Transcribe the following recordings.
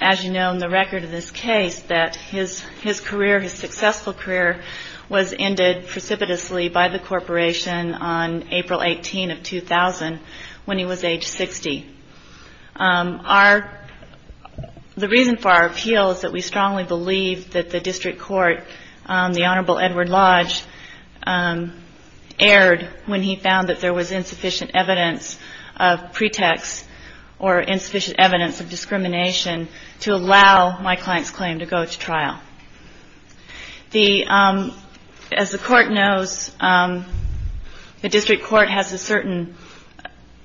As you know, in the record of this case, his successful career was ended precipitously by the corporation on April 18, 2000, when he was age 60. The reason for our appeal is that we strongly believe that the District Court, the Honorable Edward Lodge, erred when he found that there was insufficient evidence of pretext or insufficient evidence of discrimination to allow my client's claim to go to trial. As the Court knows, the District Court has a certain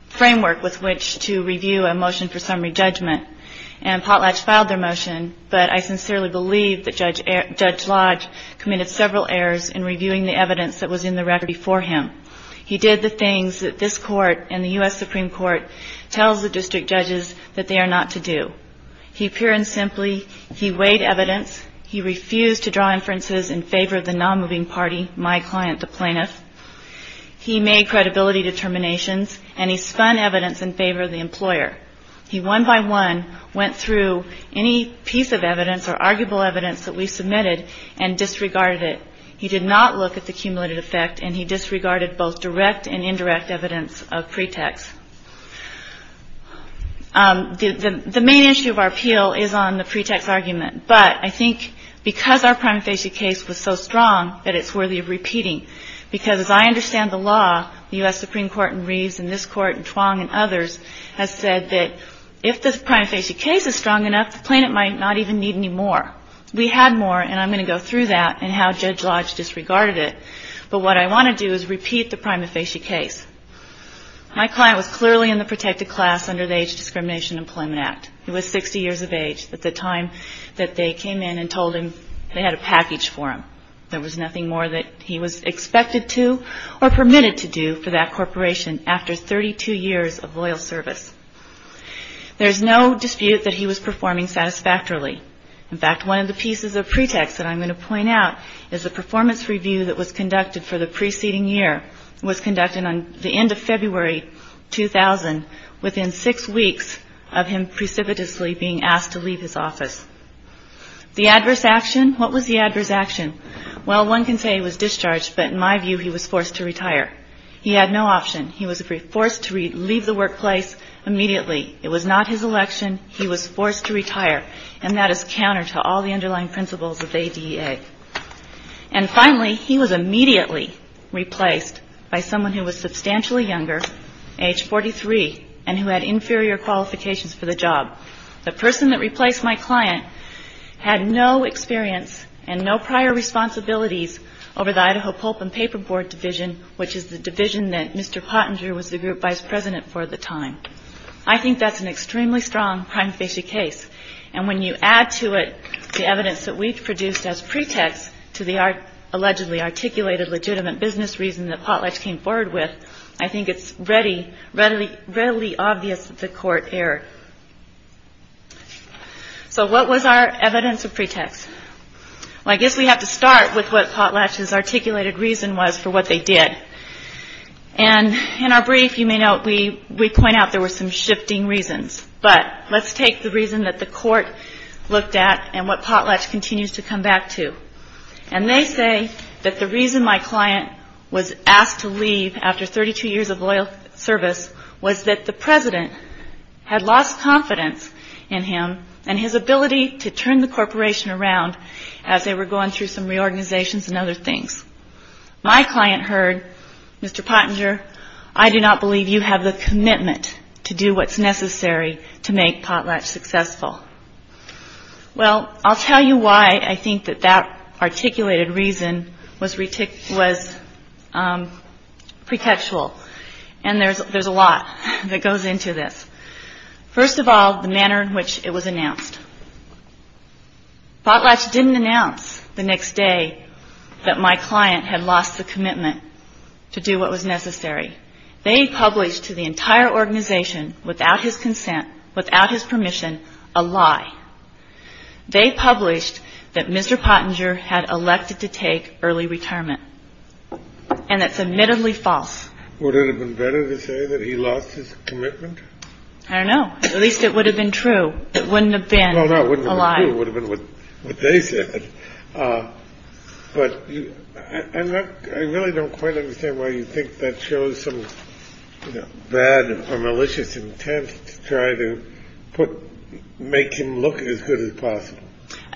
framework with which to review a motion for summary judgment, and Potlatch filed their motion, but I sincerely believe that Judge Lodge committed several errors in reviewing the evidence that was in the case. He did the things that this Court and the U.S. Supreme Court tells the District Judges that they are not to do. He pure and simply weighed evidence. He refused to draw inferences in favor of the non-moving party, my client, the plaintiff. He made credibility determinations and spun evidence in favor of the employer. He one by one went through any piece of evidence or arguable evidence that we submitted and disregarded it. He did not look at the cumulative effect, and he disregarded both direct and indirect evidence of pretext. The main issue of our appeal is on the pretext argument, but I think because our prima facie case was so strong that it's worthy of repeating, because as I understand the law, the U.S. Supreme Court in Reeves and this Court in Twong and others has said that if the prima facie case is strong enough, the plaintiff might not even need any more. We had more, and I'm going to go through that and how Judge Lodge disregarded it, but what I want to do is repeat the prima facie case. My client was clearly in the protected class under the Age Discrimination Employment Act. He was 60 years of age at the time that they came in and told him they had a package for him. There was nothing more that he was expected to or permitted to do for that corporation after 32 years of loyal service. There's no dispute that he was performing satisfactorily. In fact, one of the pieces of pretext that I'm going to point out is the performance review that was conducted for the preceding year. It was conducted on the end of February 2000, within six weeks of him precipitously being asked to leave his office. The adverse action, what was the adverse action? Well, one can say he was discharged, but in my view he was forced to retire. He had no option. He was forced to leave the workplace immediately. It was not his election. He was forced to retire, and that is counter to all the underlying principles of the ADA. And finally, he was immediately replaced by someone who was substantially younger, age 43, and who had inferior qualifications for the job. The person that replaced my client had no experience and no prior responsibilities over the Idaho Pulp and Paper Board Division, which is the division that Mr. Pottinger was the group vice president for at the time. I think that's an extremely strong prime facie case, and when you add to it the evidence that we've produced as pretext to the allegedly articulated legitimate business reason that Potlatch came forward with, I think it's readily obvious that the court erred. So what was our evidence of pretext? Well, I guess we have to start with what Potlatch's said. And in our brief, you may note we point out there were some shifting reasons, but let's take the reason that the court looked at and what Potlatch continues to come back to. And they say that the reason my client was asked to leave after 32 years of loyal service was that the president had lost confidence in him and his ability to turn the corporation around as they were going through some reorganizations and other things. My client heard, Mr. Pottinger, I do not believe you have the commitment to do what's necessary to make Potlatch successful. Well I'll tell you why I think that that articulated reason was pretextual, and there's a lot that it was announced. Potlatch didn't announce the next day that my client had lost the commitment to do what was necessary. They published to the entire organization without his consent, without his permission, a lie. They published that Mr. Pottinger had elected to take early retirement. And that's admittedly false. Would it have been better to say that he lost his I don't know. At least it would have been true. It wouldn't have been a lie. It would have been what they said. But I really don't quite understand why you think that shows some bad or malicious intent to try to put, make him look as good as possible.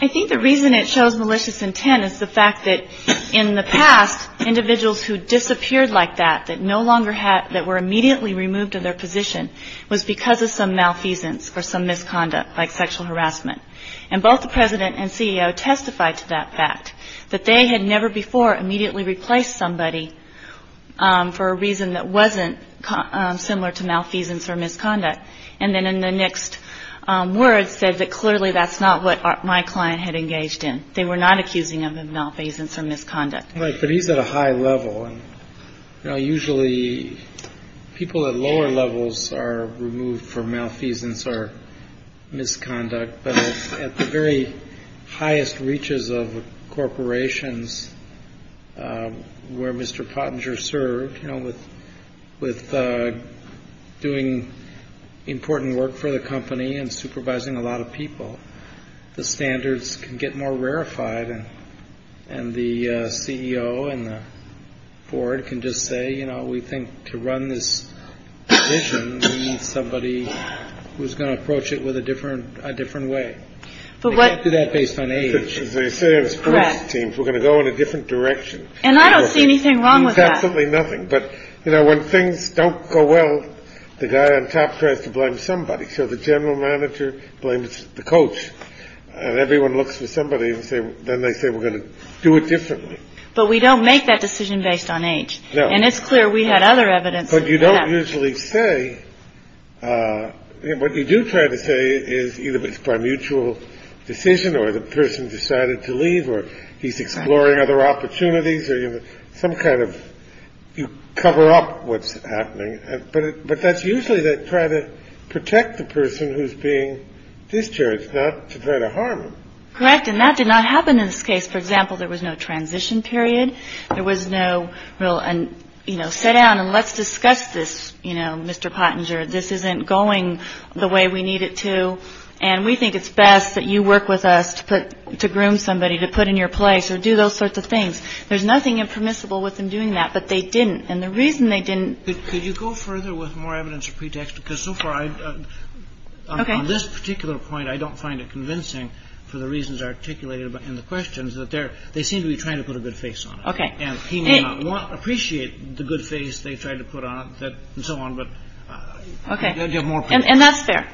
I think the reason it shows malicious intent is the fact that in the past, individuals who disappeared like that, that no longer had, that were immediately removed of their position, was because of some malfeasance or some misconduct, like sexual harassment. And both the president and CEO testified to that fact, that they had never before immediately replaced somebody for a reason that wasn't similar to malfeasance or misconduct. And then in the next word said that clearly that's not what my client had engaged in. They were not accusing him of malfeasance or misconduct. Right. But he's at a high level. And usually people at lower levels are removed for malfeasance or misconduct. But at the very highest reaches of corporations where Mr. Pottinger served with with doing important work for the company and supervising a lot of people, the standards can get more rarefied. And the CEO and the board can just say, you know, we think to run this vision, somebody who's going to approach it with a different a different way. But what do that based on age is correct teams. We're going to go in a different direction. And I don't see anything wrong with absolutely nothing. But, you know, when things don't go well, the guy on top tries to blame somebody. So the general manager blames the coach and everyone looks for somebody and say then they say we're going to do it differently. But we don't make that decision based on age. And it's clear we had other evidence. But you don't usually say what you do try to say is either by mutual decision or the person decided to leave or he's exploring other opportunities or some kind of you cover up what's happening. But but that's usually that try to protect the person who's being discharged, not to try to harm. Correct. And that did not happen in this case. For example, there was no transition period. There was no real. And, you know, sit down and let's discuss this. You know, Mr. Pottinger, this isn't going the way we need it to. And we think it's best that you work with us to put to groom somebody to put in your place or do those sorts of things. There's nothing impermissible with them doing that. But they didn't. And the reason they didn't. Could you go further with more evidence of pretext? Because so far I've got this particular point. I don't find it convincing for the reasons articulated in the questions that they're they seem to be trying to put a good face on. OK. And he may not appreciate the good face they tried to put on that and so on. But OK. And that's fair.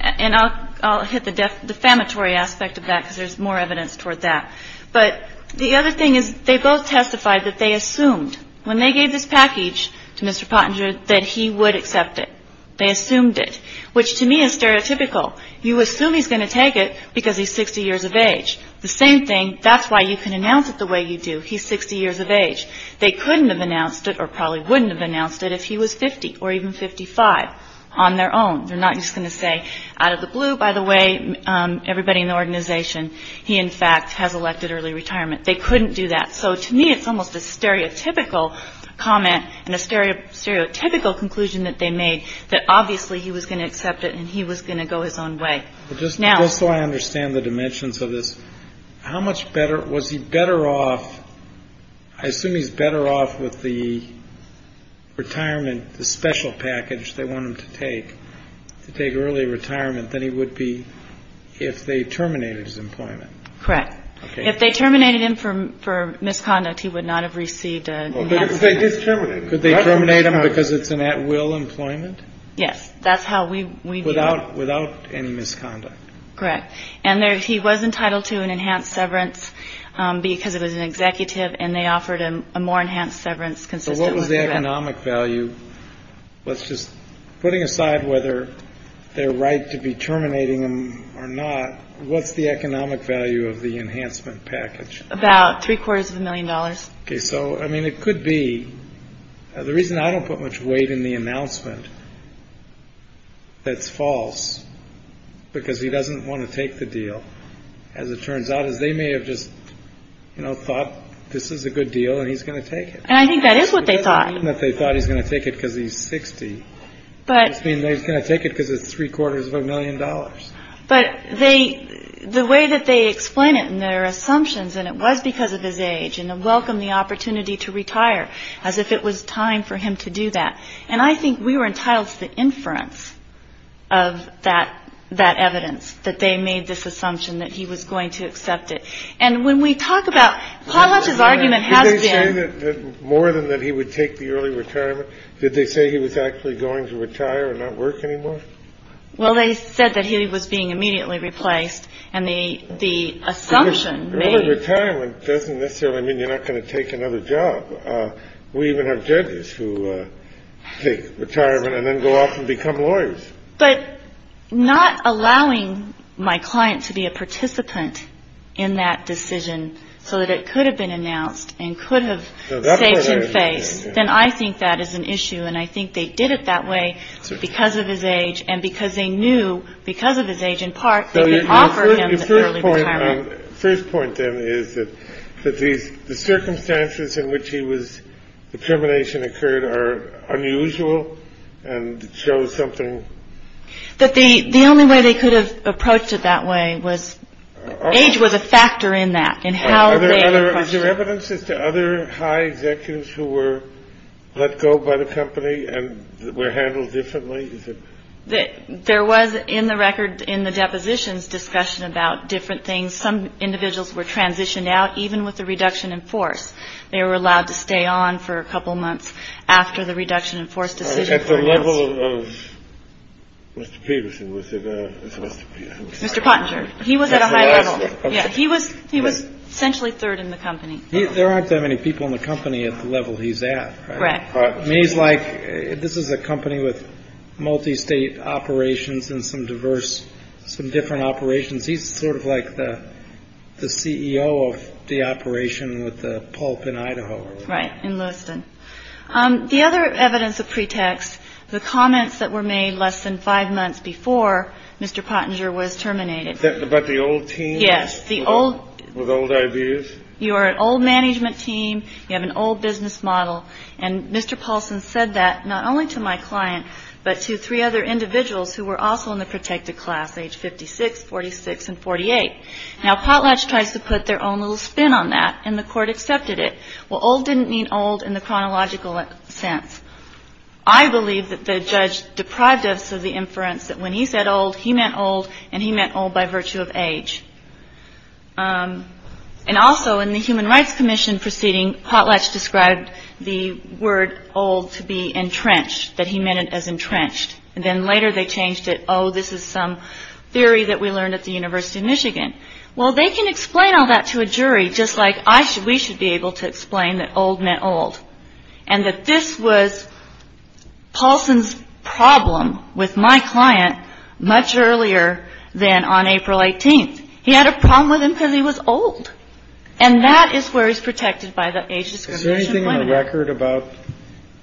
And I'll hit the defamatory aspect of that because there's more evidence toward that. But the other thing is they both testified that they assumed when they gave this package to Mr. Pottinger, that he would accept it. They assumed it, which to me is stereotypical. You assume he's going to take it because he's 60 years of age. The same thing. That's why you can announce it the way you do. He's 60 years of age. They couldn't have announced it or probably wouldn't have announced it if he was 50 or even 55 on their own. They're not just going to say out of the blue, by the way, everybody in the organization. He, in fact, has elected early retirement. They couldn't do that. So to me, it's almost a stereotypical comment and a stereotypical conclusion that they made that obviously he was going to accept it. And he was going to go his own way. Just now. So I understand the dimensions of this. How much better was he better off? I assume he's better off with the retirement, the special package they want him to take to take early retirement than he would be if they terminated his employment. Correct. If they terminated him from for misconduct, he would not have received a term. Could they terminate him because it's an at will employment? Yes, that's how we without without any misconduct. Correct. And there he was entitled to an enhanced severance because it was an executive and they offered him a more enhanced severance. Consistent with the economic value. Let's just putting aside whether they're right to be terminating him or not. What's the economic value of the enhancement package? About three quarters of a million dollars. So, I mean, it could be the reason I don't put much weight in the announcement. That's false because he doesn't want to take the deal, as it turns out, as they may have just, you know, thought this is a good deal and he's going to take it. And I think that is what they thought that they thought he's going to take it because he's 60. But I mean, they're going to take it because it's three quarters of a million dollars. But they the way that they explain it and their assumptions and it was because of his age and welcome the opportunity to retire as if it was time for him to do that. And I think we were entitled to the inference of that, that evidence that they made this assumption that he was going to accept it. And when we talk about how much his argument has been more than that, he would take the early retirement. Did they say he was actually going to retire and not work anymore? Well, they said that he was being immediately replaced. And they the assumption that retirement doesn't necessarily mean you're not going to take another job. We even have judges who take retirement and then go off and become lawyers. But not allowing my client to be a participant in that decision so that it could have been announced and could have saved face. Then I think that is an issue. And I think they did it that way because of his age. And because they knew because of his age, in part, they could offer him the first point, then is that these circumstances in which he was. The termination occurred are unusual and show something that the the only way they could have approached it that way was age was a factor in that. And how are there other evidences to other high executives who were let go by the company and were handled differently? That there was in the record in the depositions discussion about different things. Some individuals were transitioned out even with the reduction in force. They were allowed to stay on for a couple of months after the reduction in force. At the level of Mr. Peterson, was it? Mr. Pottinger. He was at a high level. He was he was essentially third in the company. There aren't that many people in the company at the level he's at. He's like this is a company with multistate operations and some diverse, some different operations. He's sort of like the the CEO of the operation with the pulp in Idaho. Right. In Lewiston. The other evidence of pretext, the comments that were made less than five months before Mr. Pottinger was terminated. But the old team. Yes. The old with old ideas. You are an old management team. You have an old business model. And Mr. Paulson said that not only to my client, but to three other individuals who were also in the protected class age 56, 46 and 48. Now, Potlatch tries to put their own little spin on that. And the court accepted it. Well, old didn't mean old in the chronological sense. I believe that the judge deprived us of the inference that when he said old, he meant old and he meant old by virtue of age. And also in the Human Rights Commission proceeding, Potlatch described the word old to be entrenched, that he meant it as entrenched. And then later they changed it. Oh, this is some theory that we learned at the University of Michigan. Well, they can explain all that to a jury, just like I should. We should be able to explain that old meant old and that this was Paulson's problem with my client much earlier than on April 18th. He had a problem with him because he was old. And that is where he's protected by the age discrimination record about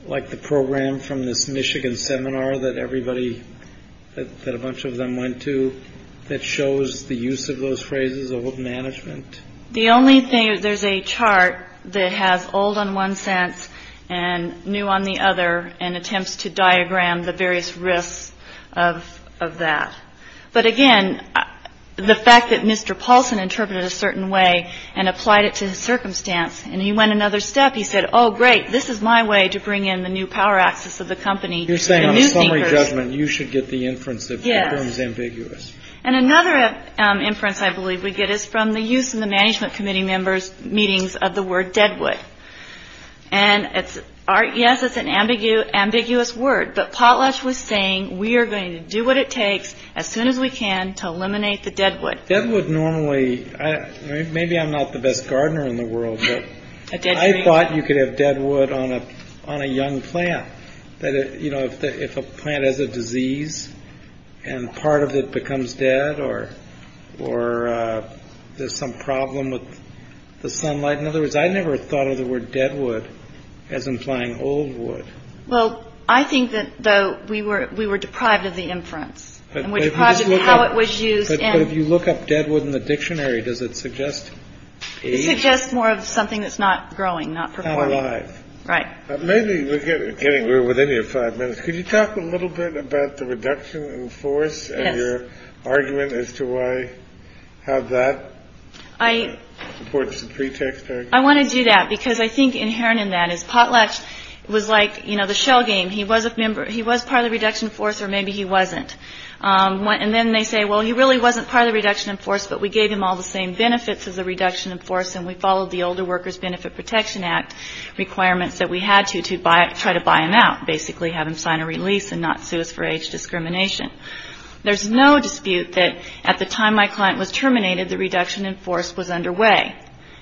like the program from this Michigan seminar that everybody that a bunch of them went to. That shows the use of those phrases of management. The only thing there's a chart that has old on one sense and new on the other and attempts to diagram the various risks of of that. But again, the fact that Mr. Paulson interpreted a certain way and applied it to the circumstance and he went another step. He said, oh, great. This is my way to bring in the new power axis of the company. You're saying a summary judgment. You should get the inference that is ambiguous. And another inference I believe we get is from the use of the management committee members meetings of the word deadwood. And it's art. Yes, it's an ambiguous, ambiguous word. But Potlatch was saying, we are going to do what it takes as soon as we can to eliminate the deadwood deadwood normally. Maybe I'm not the best gardener in the world. I thought you could have deadwood on a on a young plant. That, you know, if a plant is a disease and part of it becomes dead or or there's some problem with the sunlight. In other words, I never thought of the word deadwood as implying old wood. Well, I think that, though, we were we were deprived of the inference and we're deprived of how it was used. And if you look up deadwood in the dictionary, does it suggest it's just more of something that's not growing, not alive. Right. Maybe we're getting we're within your five minutes. Could you talk a little bit about the reduction in force and your argument as to why have that? I support the pretext. I want to do that because I think inherent in that is potlatch was like, you know, the shell game. He was a member. He was part of the reduction force or maybe he wasn't. And then they say, well, he really wasn't part of the reduction in force. But we gave him all the same benefits of the reduction in force. And we followed the Older Workers Benefit Protection Act requirements that we had to to buy it, try to buy him out, basically have him sign a release and not sue us for age discrimination. There's no dispute that at the time my client was terminated, the reduction in force was underway.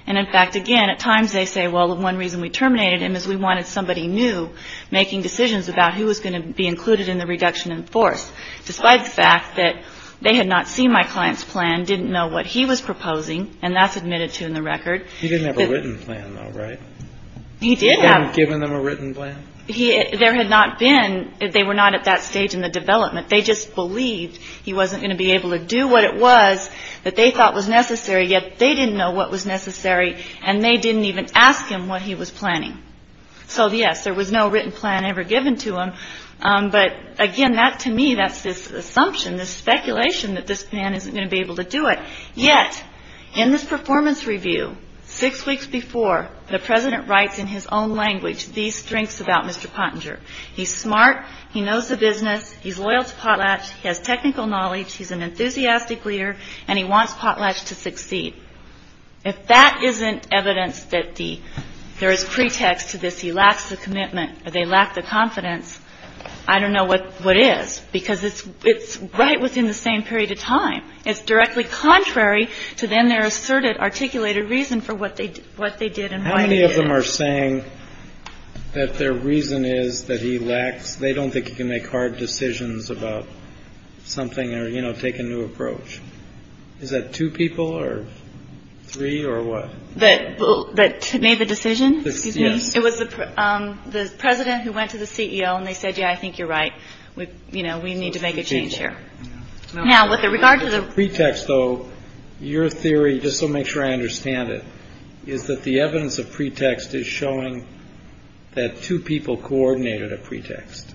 And in fact, again, at times they say, well, the one reason we terminated him is we wanted somebody new making decisions about who was going to be included in the reduction in force. Despite the fact that they had not seen my client's plan, didn't know what he was proposing. And that's admitted to in the record. He didn't have a written plan, though, right? He did have given them a written plan. He there had not been. They were not at that stage in the development. They just believed he wasn't going to be able to do what it was that they thought was necessary. Yet they didn't know what was necessary. And they didn't even ask him what he was planning. So, yes, there was no written plan ever given to him. But again, that to me, that's this assumption, this speculation that this man isn't going to be able to do it. Yet in this performance review, six weeks before, the president writes in his own language these strengths about Mr. Pottinger. He's smart. He knows the business. He's loyal to Potlatch. He has technical knowledge. He's an enthusiastic leader and he wants Potlatch to succeed. If that isn't evidence that the there is pretext to this, he lacks the commitment or they lack the confidence. I don't know what what is, because it's it's right within the same period of time. It's directly contrary to them. They're asserted articulated reason for what they what they did and many of them are saying that their reason is that he lacks. They don't think you can make hard decisions about something or, you know, take a new approach. Is that two people or three or what? That made the decision. It was the president who went to the CEO and they said, yeah, I think you're right. We you know, we need to make a change here. Now, with regard to the pretext, though, your theory, just to make sure I understand it, is that the evidence of pretext is showing that two people coordinated a pretext.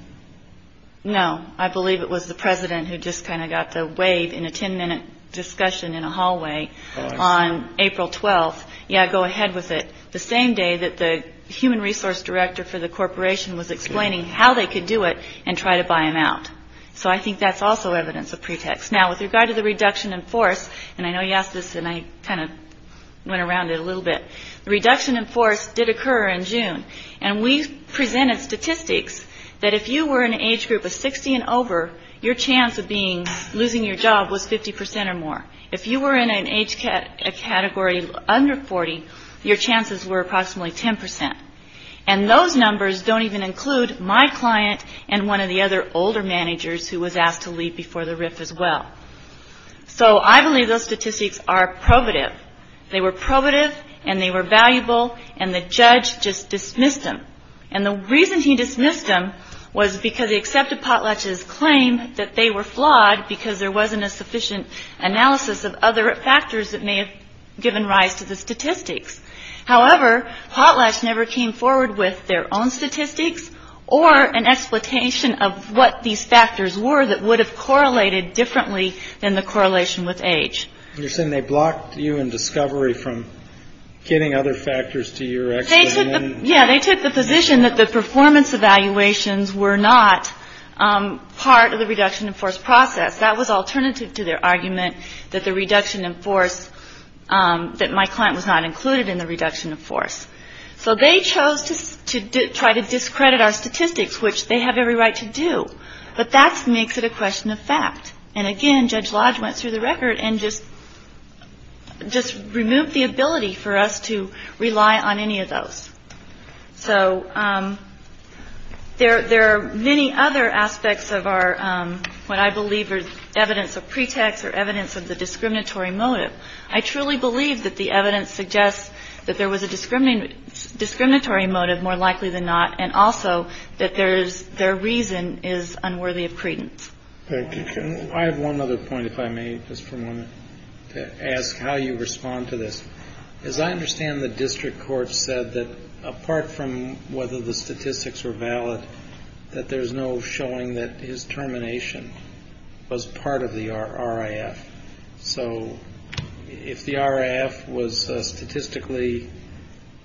No, I believe it was the president who just kind of got the wave in a 10 minute discussion in a hallway on April 12th. Yeah, go ahead with it. The same day that the human resource director for the corporation was explaining how they could do it and try to buy him out. So I think that's also evidence of pretext now with regard to the reduction in force. And I know you asked this and I kind of went around it a little bit. Reduction in force did occur in June and we presented statistics that if you were an age group of 60 and over, your chance of being losing your job was 50 percent or more. If you were in an age category under 40, your chances were approximately 10 percent. And those numbers don't even include my client and one of the other older managers who was asked to leave before the RIF as well. So I believe those statistics are probative. They were probative and they were valuable and the judge just dismissed him. And the reason he dismissed him was because he accepted Potlatch's claim that they were flawed because there wasn't a sufficient analysis of other factors that may have given rise to the statistics. However, Potlatch never came forward with their own statistics or an explication of what these factors were that would have correlated differently than the correlation with age. You're saying they blocked you in discovery from getting other factors to your. Yeah, they took the position that the performance evaluations were not part of the reduction in force process. That was alternative to their argument that the reduction in force that my client was not included in the reduction of force. So they chose to try to discredit our statistics, which they have every right to do. But that makes it a question of fact. And again, Judge Lodge went through the record and just just removed the ability for us to rely on any of those. So there are many other aspects of our what I believe is evidence of pretext or evidence of the discriminatory motive. I truly believe that the evidence suggests that there was a discriminating discriminatory motive more likely than not. And also that there is their reason is unworthy of credence. I have one other point, if I may ask how you respond to this. As I understand, the district court said that apart from whether the statistics were valid, that there is no showing that his termination was part of the RF. So if the RF was statistically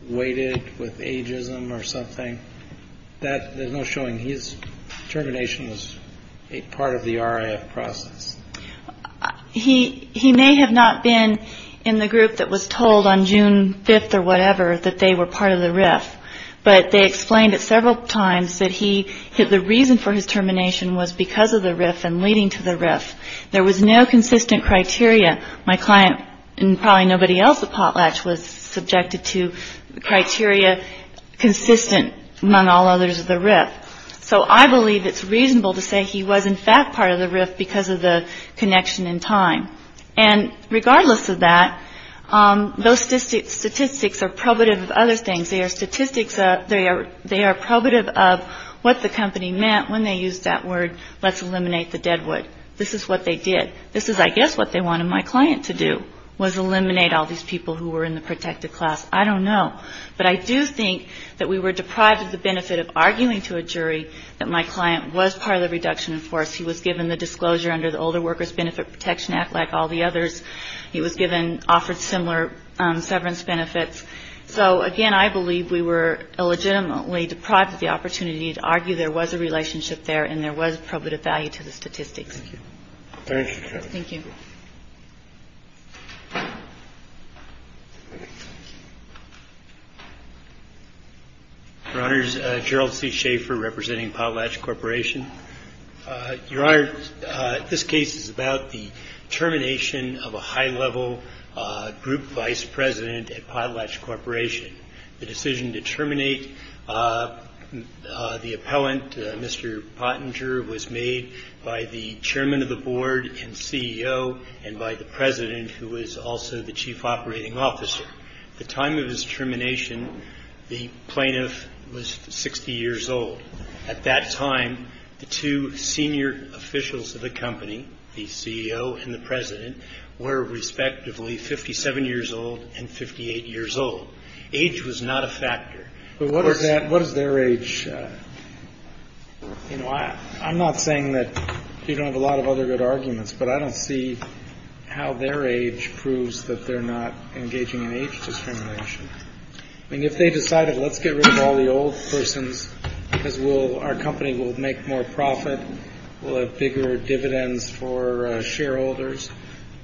weighted with ageism or something that there's no showing his termination was a part of the RF process. He he may have not been in the group that was told on June 5th or whatever, that they were part of the RF. But they explained it several times that he had the reason for his termination was because of the RF and leading to the RF. There was no consistent criteria. My client and probably nobody else, the potlatch was subjected to criteria consistent among all others of the RF. So I believe it's reasonable to say he was, in fact, part of the RF because of the connection in time. And regardless of that, those statistics are probative of other things. They are statistics. They are they are probative of what the company meant when they used that word. Let's eliminate the deadwood. This is what they did. This is, I guess, what they wanted my client to do was eliminate all these people who were in the protected class. I don't know, but I do think that we were deprived of the benefit of arguing to a jury that my client was part of the reduction in force. He was given the disclosure under the Older Workers Benefit Protection Act, like all the others. He was given offered similar severance benefits. So, again, I believe we were illegitimately deprived of the opportunity to argue there was a relationship there and there was probative value to the statistics. Thank you. Your Honor, Gerald C. Schaefer representing Potlatch Corporation. Your Honor, this case is about the termination of a high level group vice president at Potlatch Corporation. The decision to terminate the appellant, Mr. Pottinger, was made by the chairman of the board and CEO and by the president, who was also the chief operating officer. At the time of his termination, the plaintiff was 60 years old. At that time, the two senior officials of the company, the CEO and the president, were respectively 57 years old and 58 years old. Age was not a factor. But what is their age? You know, I'm not saying that you don't have a lot of other good arguments, but I don't see how their age proves that they're not engaging in age discrimination. I mean, if they decided, let's get rid of all the old persons because our company will make more profit, we'll have bigger dividends for shareholders.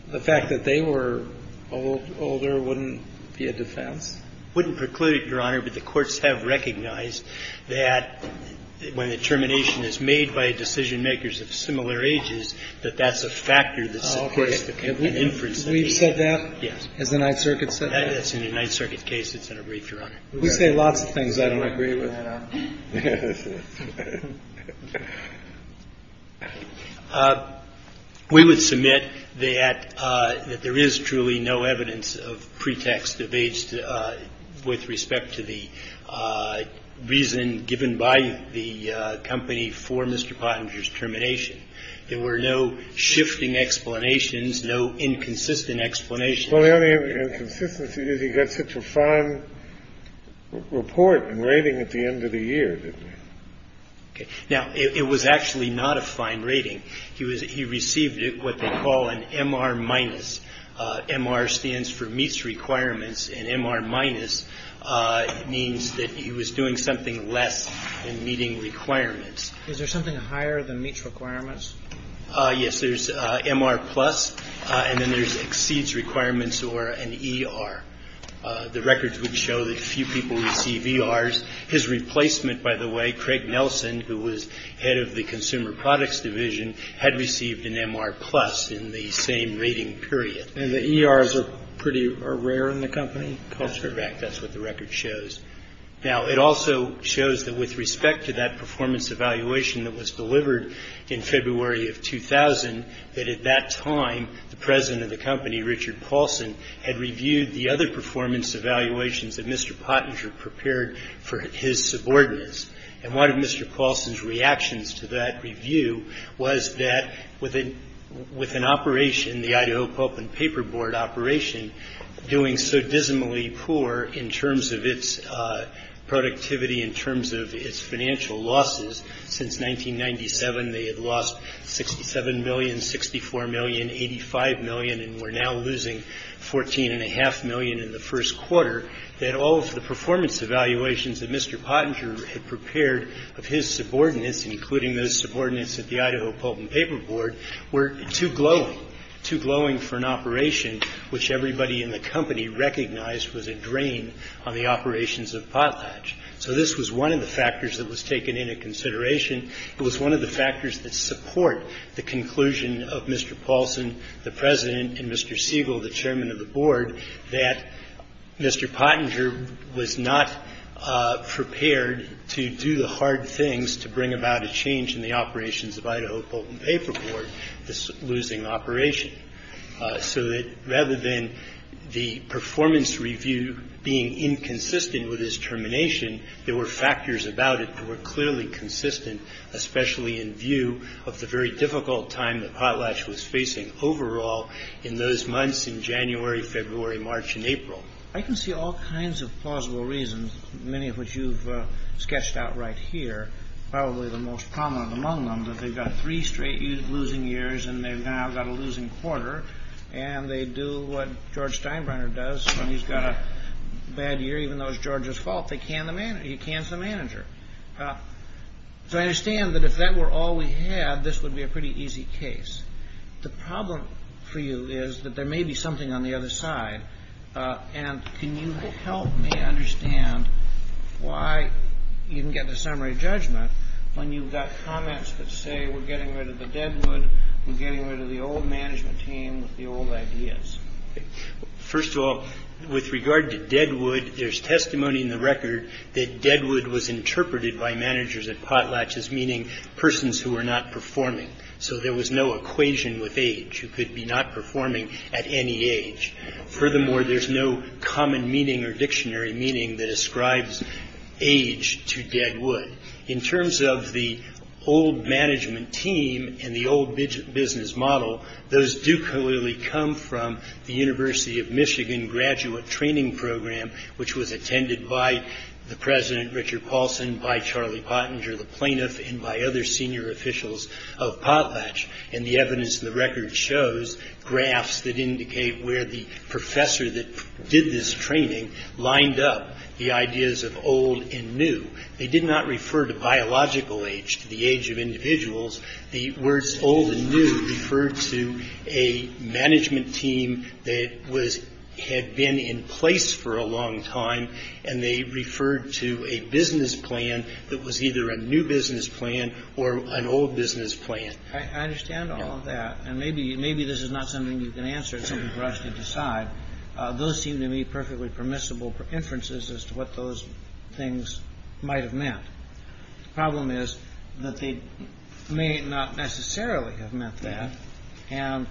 The fact that they were older wouldn't be a defense? Wouldn't preclude it, Your Honor. But the courts have recognized that when the termination is made by decision makers of similar ages, that that's a factor that's supposed to be an inference. We've said that, has the Ninth Circuit said that? That's in the Ninth Circuit case. It's in a brief, Your Honor. We say lots of things I don't agree with. And we would submit that that there is truly no evidence of pretext of age with respect to the reason given by the company for Mr. Pottinger's termination. There were no shifting explanations, no inconsistent explanation. Well, the only inconsistency is he got such a fine report and rating at the end of the year. Now, it was actually not a fine rating. He was he received what they call an M.R. Minus. M.R. stands for meets requirements and M.R. Minus means that he was doing something less than meeting requirements. Is there something higher than meets requirements? Yes. There's M.R. Plus. And then there's exceeds requirements or an E.R. The records would show that few people receive E.R.'s. His replacement, by the way, Craig Nelson, who was head of the Consumer Products Division, had received an M.R. Plus in the same rating period. And the E.R.'s are pretty rare in the company. That's correct. That's what the record shows. Now, it also shows that with respect to that performance evaluation that was delivered in February of 2000, that at that time, the president of the company, Richard Paulson, had reviewed the other performance evaluations that Mr. Pottinger prepared for his subordinates. And one of Mr. Paulson's reactions to that review was that with an operation, the Idaho Pulp and Paper Board operation, doing so dismally poor in terms of its productivity, in terms of its financial losses since 1997, they had lost 67 million, 64 million, 85 million, and were now losing 14 and a half million in the first quarter, that all of the performance evaluations that Mr. Pottinger had prepared of his subordinates, including those subordinates at the Idaho Pulp and Paper Board, were too glowing, too glowing for an operation which everybody in the company recognized was a drain on the operations of Potlatch. So this was one of the factors that was taken into consideration. It was one of the factors that support the conclusion of Mr. Paulson, the president, and Mr. Siegel, the chairman of the board, that Mr. Pottinger was not prepared to do the hard things to bring about a change in the operations of Idaho Pulp and Paper Board. This losing operation, so that rather than the performance review being inconsistent with his termination, there were factors about it that were clearly consistent, especially in view of the very difficult time that Potlatch was facing overall in those months in January, February, March, and April. I can see all kinds of plausible reasons, many of which you've sketched out right here. Probably the most prominent among them is that they've got three straight losing years, and they've now got a losing quarter, and they do what George Steinbrenner does when he's got a bad year, even though it's George's fault. He cans the manager. So I understand that if that were all we had, this would be a pretty easy case. The problem for you is that there may be something on the other side, and can you help me understand why you can get the summary judgment when you've got comments that say we're getting rid of the Deadwood, we're getting rid of the old management team with the old ideas? First of all, with regard to Deadwood, there's testimony in the record that Deadwood was interpreted by managers at Potlatch as meaning persons who were not performing. So there was no equation with age who could be not performing at any age. Furthermore, there's no common meaning or dictionary meaning that ascribes age to Deadwood. In terms of the old management team and the old business model, those do clearly come from the University of Michigan graduate training program, which was attended by the President Richard Paulson, by Charlie Pottinger, the plaintiff, and by other senior officials of Potlatch. And the evidence in the record shows graphs that indicate where the professor that did this training lined up the ideas of old and new. They did not refer to biological age, to the age of individuals. The words old and new referred to a management team that was had been in place for a long time. And they referred to a business plan that was either a new business plan or an old business plan. I understand all of that. And maybe maybe this is not something you can answer. It's something for us to decide. Those seem to me perfectly permissible inferences as to what those things might have meant. The problem is that they may not necessarily have meant that. And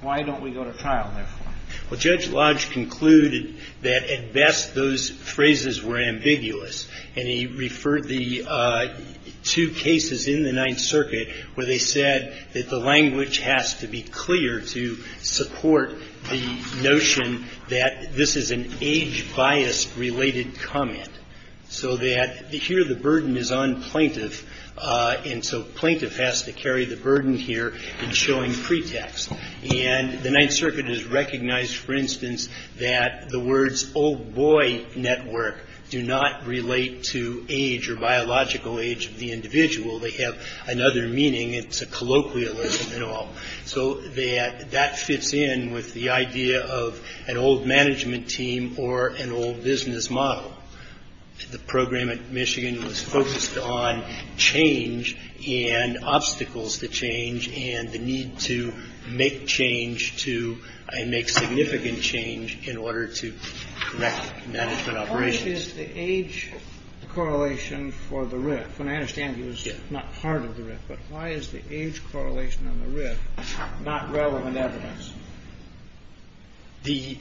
why don't we go to trial, therefore? Well, Judge Lodge concluded that at best those phrases were ambiguous. And he referred the two cases in the Ninth Circuit where they said that the language has to be clear to support the notion that this is an age-biased-related comment so that here the burden is on plaintiff, and so plaintiff has to carry the burden here in showing pretext. And the Ninth Circuit has recognized, for instance, that the words old boy network do not relate to age or biological age of the individual. They have another meaning. It's a colloquialism and all. So that that fits in with the idea of an old management team or an old business model. The program at Michigan was focused on change and obstacles to change and the need to make change to make significant change in order to correct management operations. The age correlation for the RIF, and I understand it was not part of the RIF, but why is the age correlation on the RIF not relevant evidence? The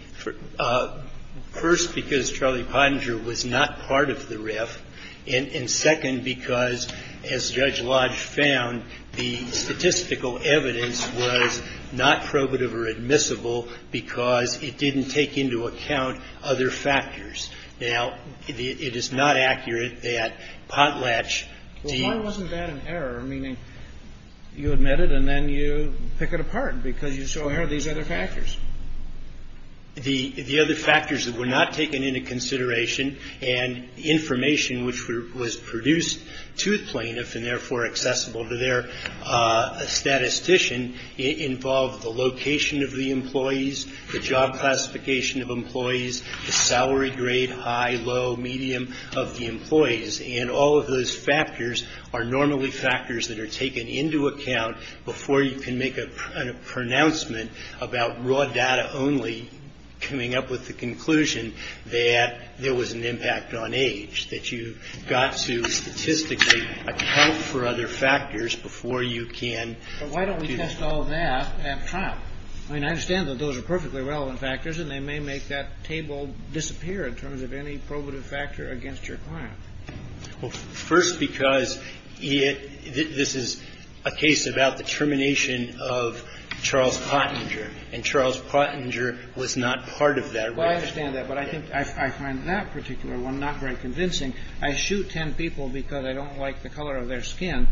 first, because Charlie Pottinger was not part of the RIF, and second, because as Judge Lodge found, the statistical evidence was not probative or admissible because it didn't take into account other factors. Now, it is not accurate that Potlatch deems that an error, meaning you admit it and then you pick it apart because you show how these are different. So what are the other factors? The other factors that were not taken into consideration and information which was produced to plaintiffs and therefore accessible to their statistician involved the location of the employees, the job classification of employees, the salary grade, high, low, medium of the employees. And all of those factors are normally factors that are taken into account before you can make a pronouncement about raw data only coming up with the conclusion that there was an impact on age, that you got to statistically account for other factors before you can. But why don't we test all that at trial? I mean, I understand that those are perfectly relevant factors and they may make that table disappear in terms of any probative factor against your client. Well, first, because this is a case about the termination of Charles Pottinger and Charles Pottinger was not part of that. Well, I understand that. But I think I find that particular one not very convincing. I shoot 10 people because I don't like the color of their skin.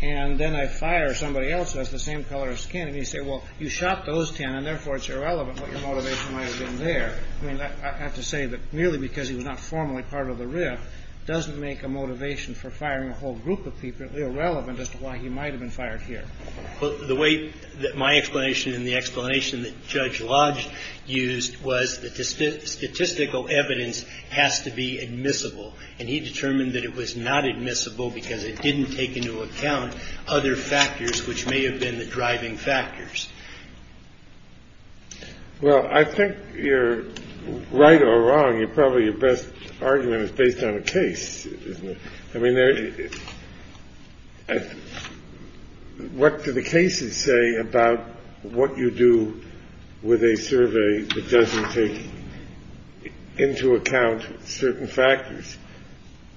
And then I fire somebody else who has the same color of skin. And you say, well, you shot those 10 and therefore it's irrelevant what your motivation might have been there. I mean, I have to say that merely because he was not formally part of the RIF doesn't make a motivation for firing a whole group of people irrelevant as to why he might have been fired here. The way that my explanation and the explanation that Judge Lodge used was the statistical evidence has to be admissible. And he determined that it was not admissible because it didn't take into account other factors which may have been the driving factors. Well, I think you're right or wrong, you're probably your best argument is based on a case, isn't it? I mean, what do the cases say about what you do with a survey that doesn't take into account certain factors?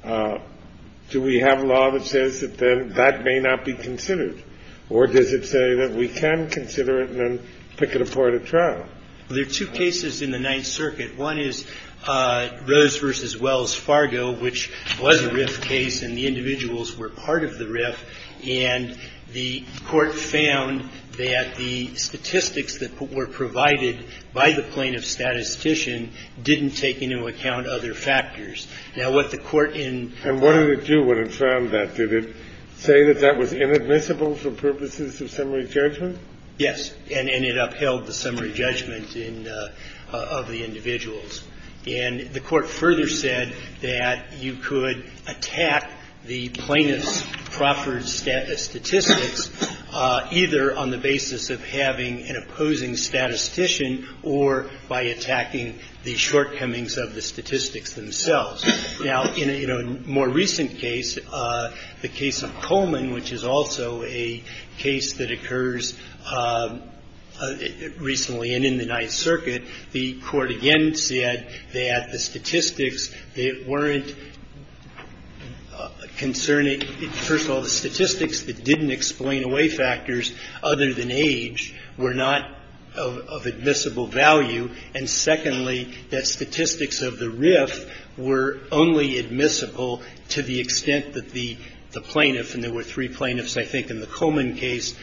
Do we have a law that says that that may not be considered or does it say that we can consider it? And then pick it apart at trial. There are two cases in the Ninth Circuit. One is Rose versus Wells Fargo, which was a RIF case and the individuals were part of the RIF. And the court found that the statistics that were provided by the plaintiff statistician didn't take into account other factors. Now, what the court in. And what did it do when it found that? Did it say that that was inadmissible for purposes of summary judgment? Yes. And it upheld the summary judgment of the individuals. And the court further said that you could attack the plaintiff's proffered statistics either on the basis of having an opposing statistician or by attacking the shortcomings of the statistics themselves. Now, in a more recent case, the case of Coleman, which is also a case that occurs recently and in the Ninth Circuit. The court again said that the statistics weren't concerning. First of all, the statistics that didn't explain away factors other than age were not of admissible value. And secondly, that statistics of the RIF were only admissible to the extent that the plaintiff, and there were three plaintiffs, I think, in the Coleman case,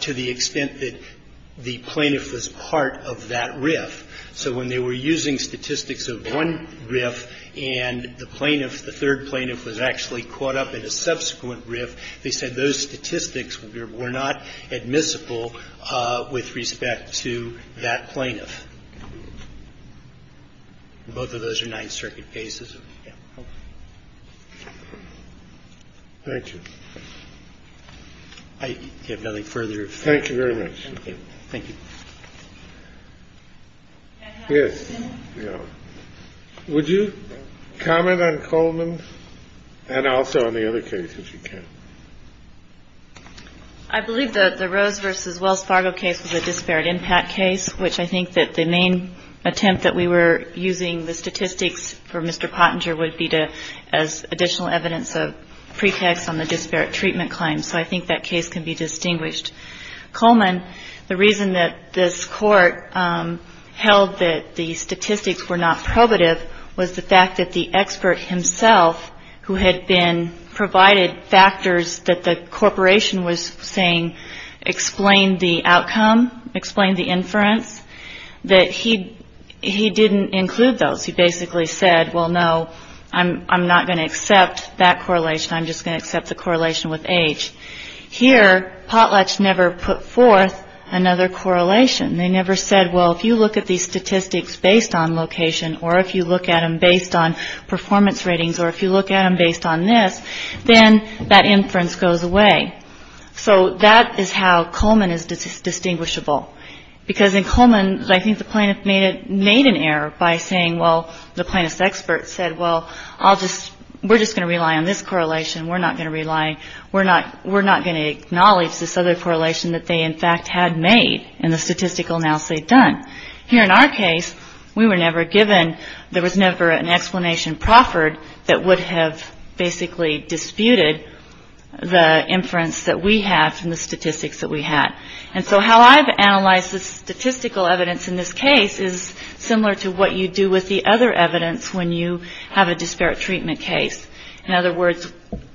to the extent that the plaintiff was part of that RIF. So when they were using statistics of one RIF and the plaintiff, the third plaintiff, was actually caught up in a subsequent RIF, they said those statistics were not admissible with respect to that plaintiff. Both of those are Ninth Circuit cases. Thank you. I have nothing further. Thank you very much. Thank you. Yes. Would you comment on Coleman and also on the other cases you can. I believe that the Rose versus Wells Fargo case was a disparate impact case, which I think that the main attempt that we were using the statistics for Mr. Pottinger would be to as additional evidence of pretext on the disparate treatment claim. So I think that case can be distinguished Coleman. The reason that this court held that the statistics were not probative was the fact that the expert himself, who had been provided factors that the corporation was saying explained the outcome, explained the inference, that he didn't include those. He basically said, well, no, I'm not going to accept that correlation. I'm just going to accept the correlation with age. Here, Potlatch never put forth another correlation. They never said, well, if you look at these statistics based on location or if you look at them based on performance ratings or if you look at them based on this, then that inference goes away. So that is how Coleman is distinguishable, because in Coleman, I think the plaintiff made it made an error by saying, well, the plaintiff's expert said, well, I'll just we're just going to rely on this correlation. We're not going to rely, we're not, we're not going to acknowledge this other correlation that they in fact had made in the statistical analysis they'd done. Here in our case, we were never given, there was never an explanation proffered that would have basically disputed the inference that we have from the statistics that we had. And so how I've analyzed the statistical evidence in this case is similar to what you do with the other evidence when you have a disparate treatment case. In other words,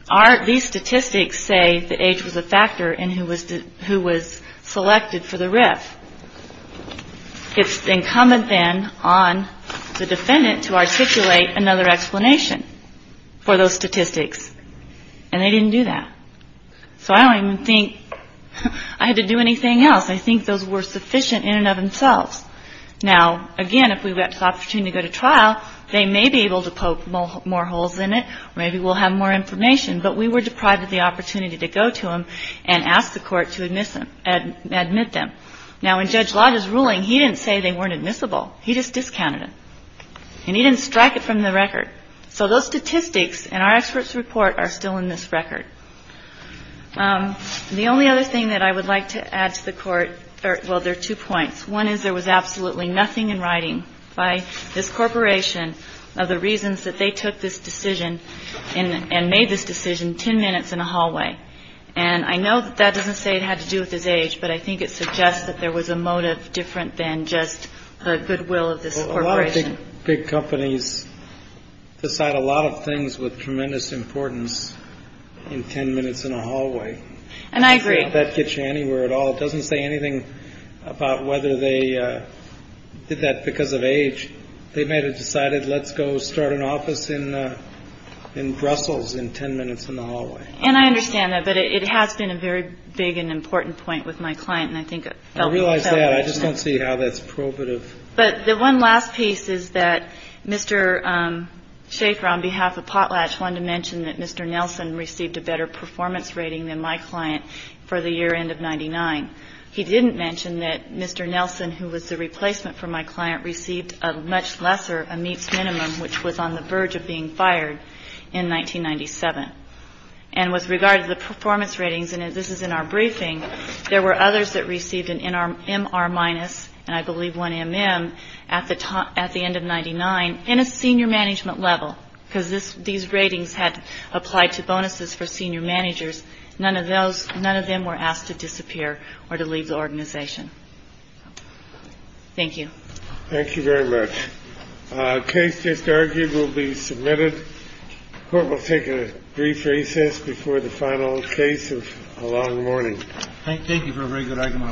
are these statistics say the age was a factor in who was who was selected for the RIF? It's incumbent then on the defendant to articulate another explanation for those statistics. And they didn't do that. So I don't even think I had to do anything else. I think those were sufficient in and of themselves. Now, again, if we've got the opportunity to go to trial, they may be able to poke more holes in it. Maybe we'll have more information. But we were deprived of the opportunity to go to him and ask the court to admit them. Now, in Judge Lotta's ruling, he didn't say they weren't admissible. He just discounted it. And he didn't strike it from the record. So those statistics and our experts report are still in this record. The only other thing that I would like to add to the court. Well, there are two points. One is there was absolutely nothing in writing by this corporation of the reasons that they took this decision and made this decision 10 minutes in a hallway. And I know that doesn't say it had to do with his age, but I think it suggests that there was a motive different than just the goodwill of this corporation. Big companies decide a lot of things with tremendous importance in 10 minutes in a hallway. And I agree that gets you anywhere at all. It doesn't say anything about whether they did that because of age. They may have decided, let's go start an office in in Brussels in 10 minutes in the hallway. And I understand that. But it has been a very big and important point with my client. And I think I realize that I just don't see how that's probative. But the one last piece is that Mr. Schaefer, on behalf of Potlatch, wanted to mention that Mr. Nelson received a better performance rating than my client for the year end of 99. He didn't mention that Mr. Nelson, who was the replacement for my client, received a much lesser a meets minimum, which was on the verge of being fired in 1997 and was regarded the performance ratings. And this is in our briefing. There were others that received an in our M.R. minus and I believe one M.M. at the top at the end of ninety nine in a senior management level because this these ratings had applied to bonuses for senior managers. None of those. None of them were asked to disappear or to leave the organization. Thank you. Thank you very much. Case just argued will be submitted. Court will take a brief recess before the final case of a long morning. Thank you for a very good argument on both sides.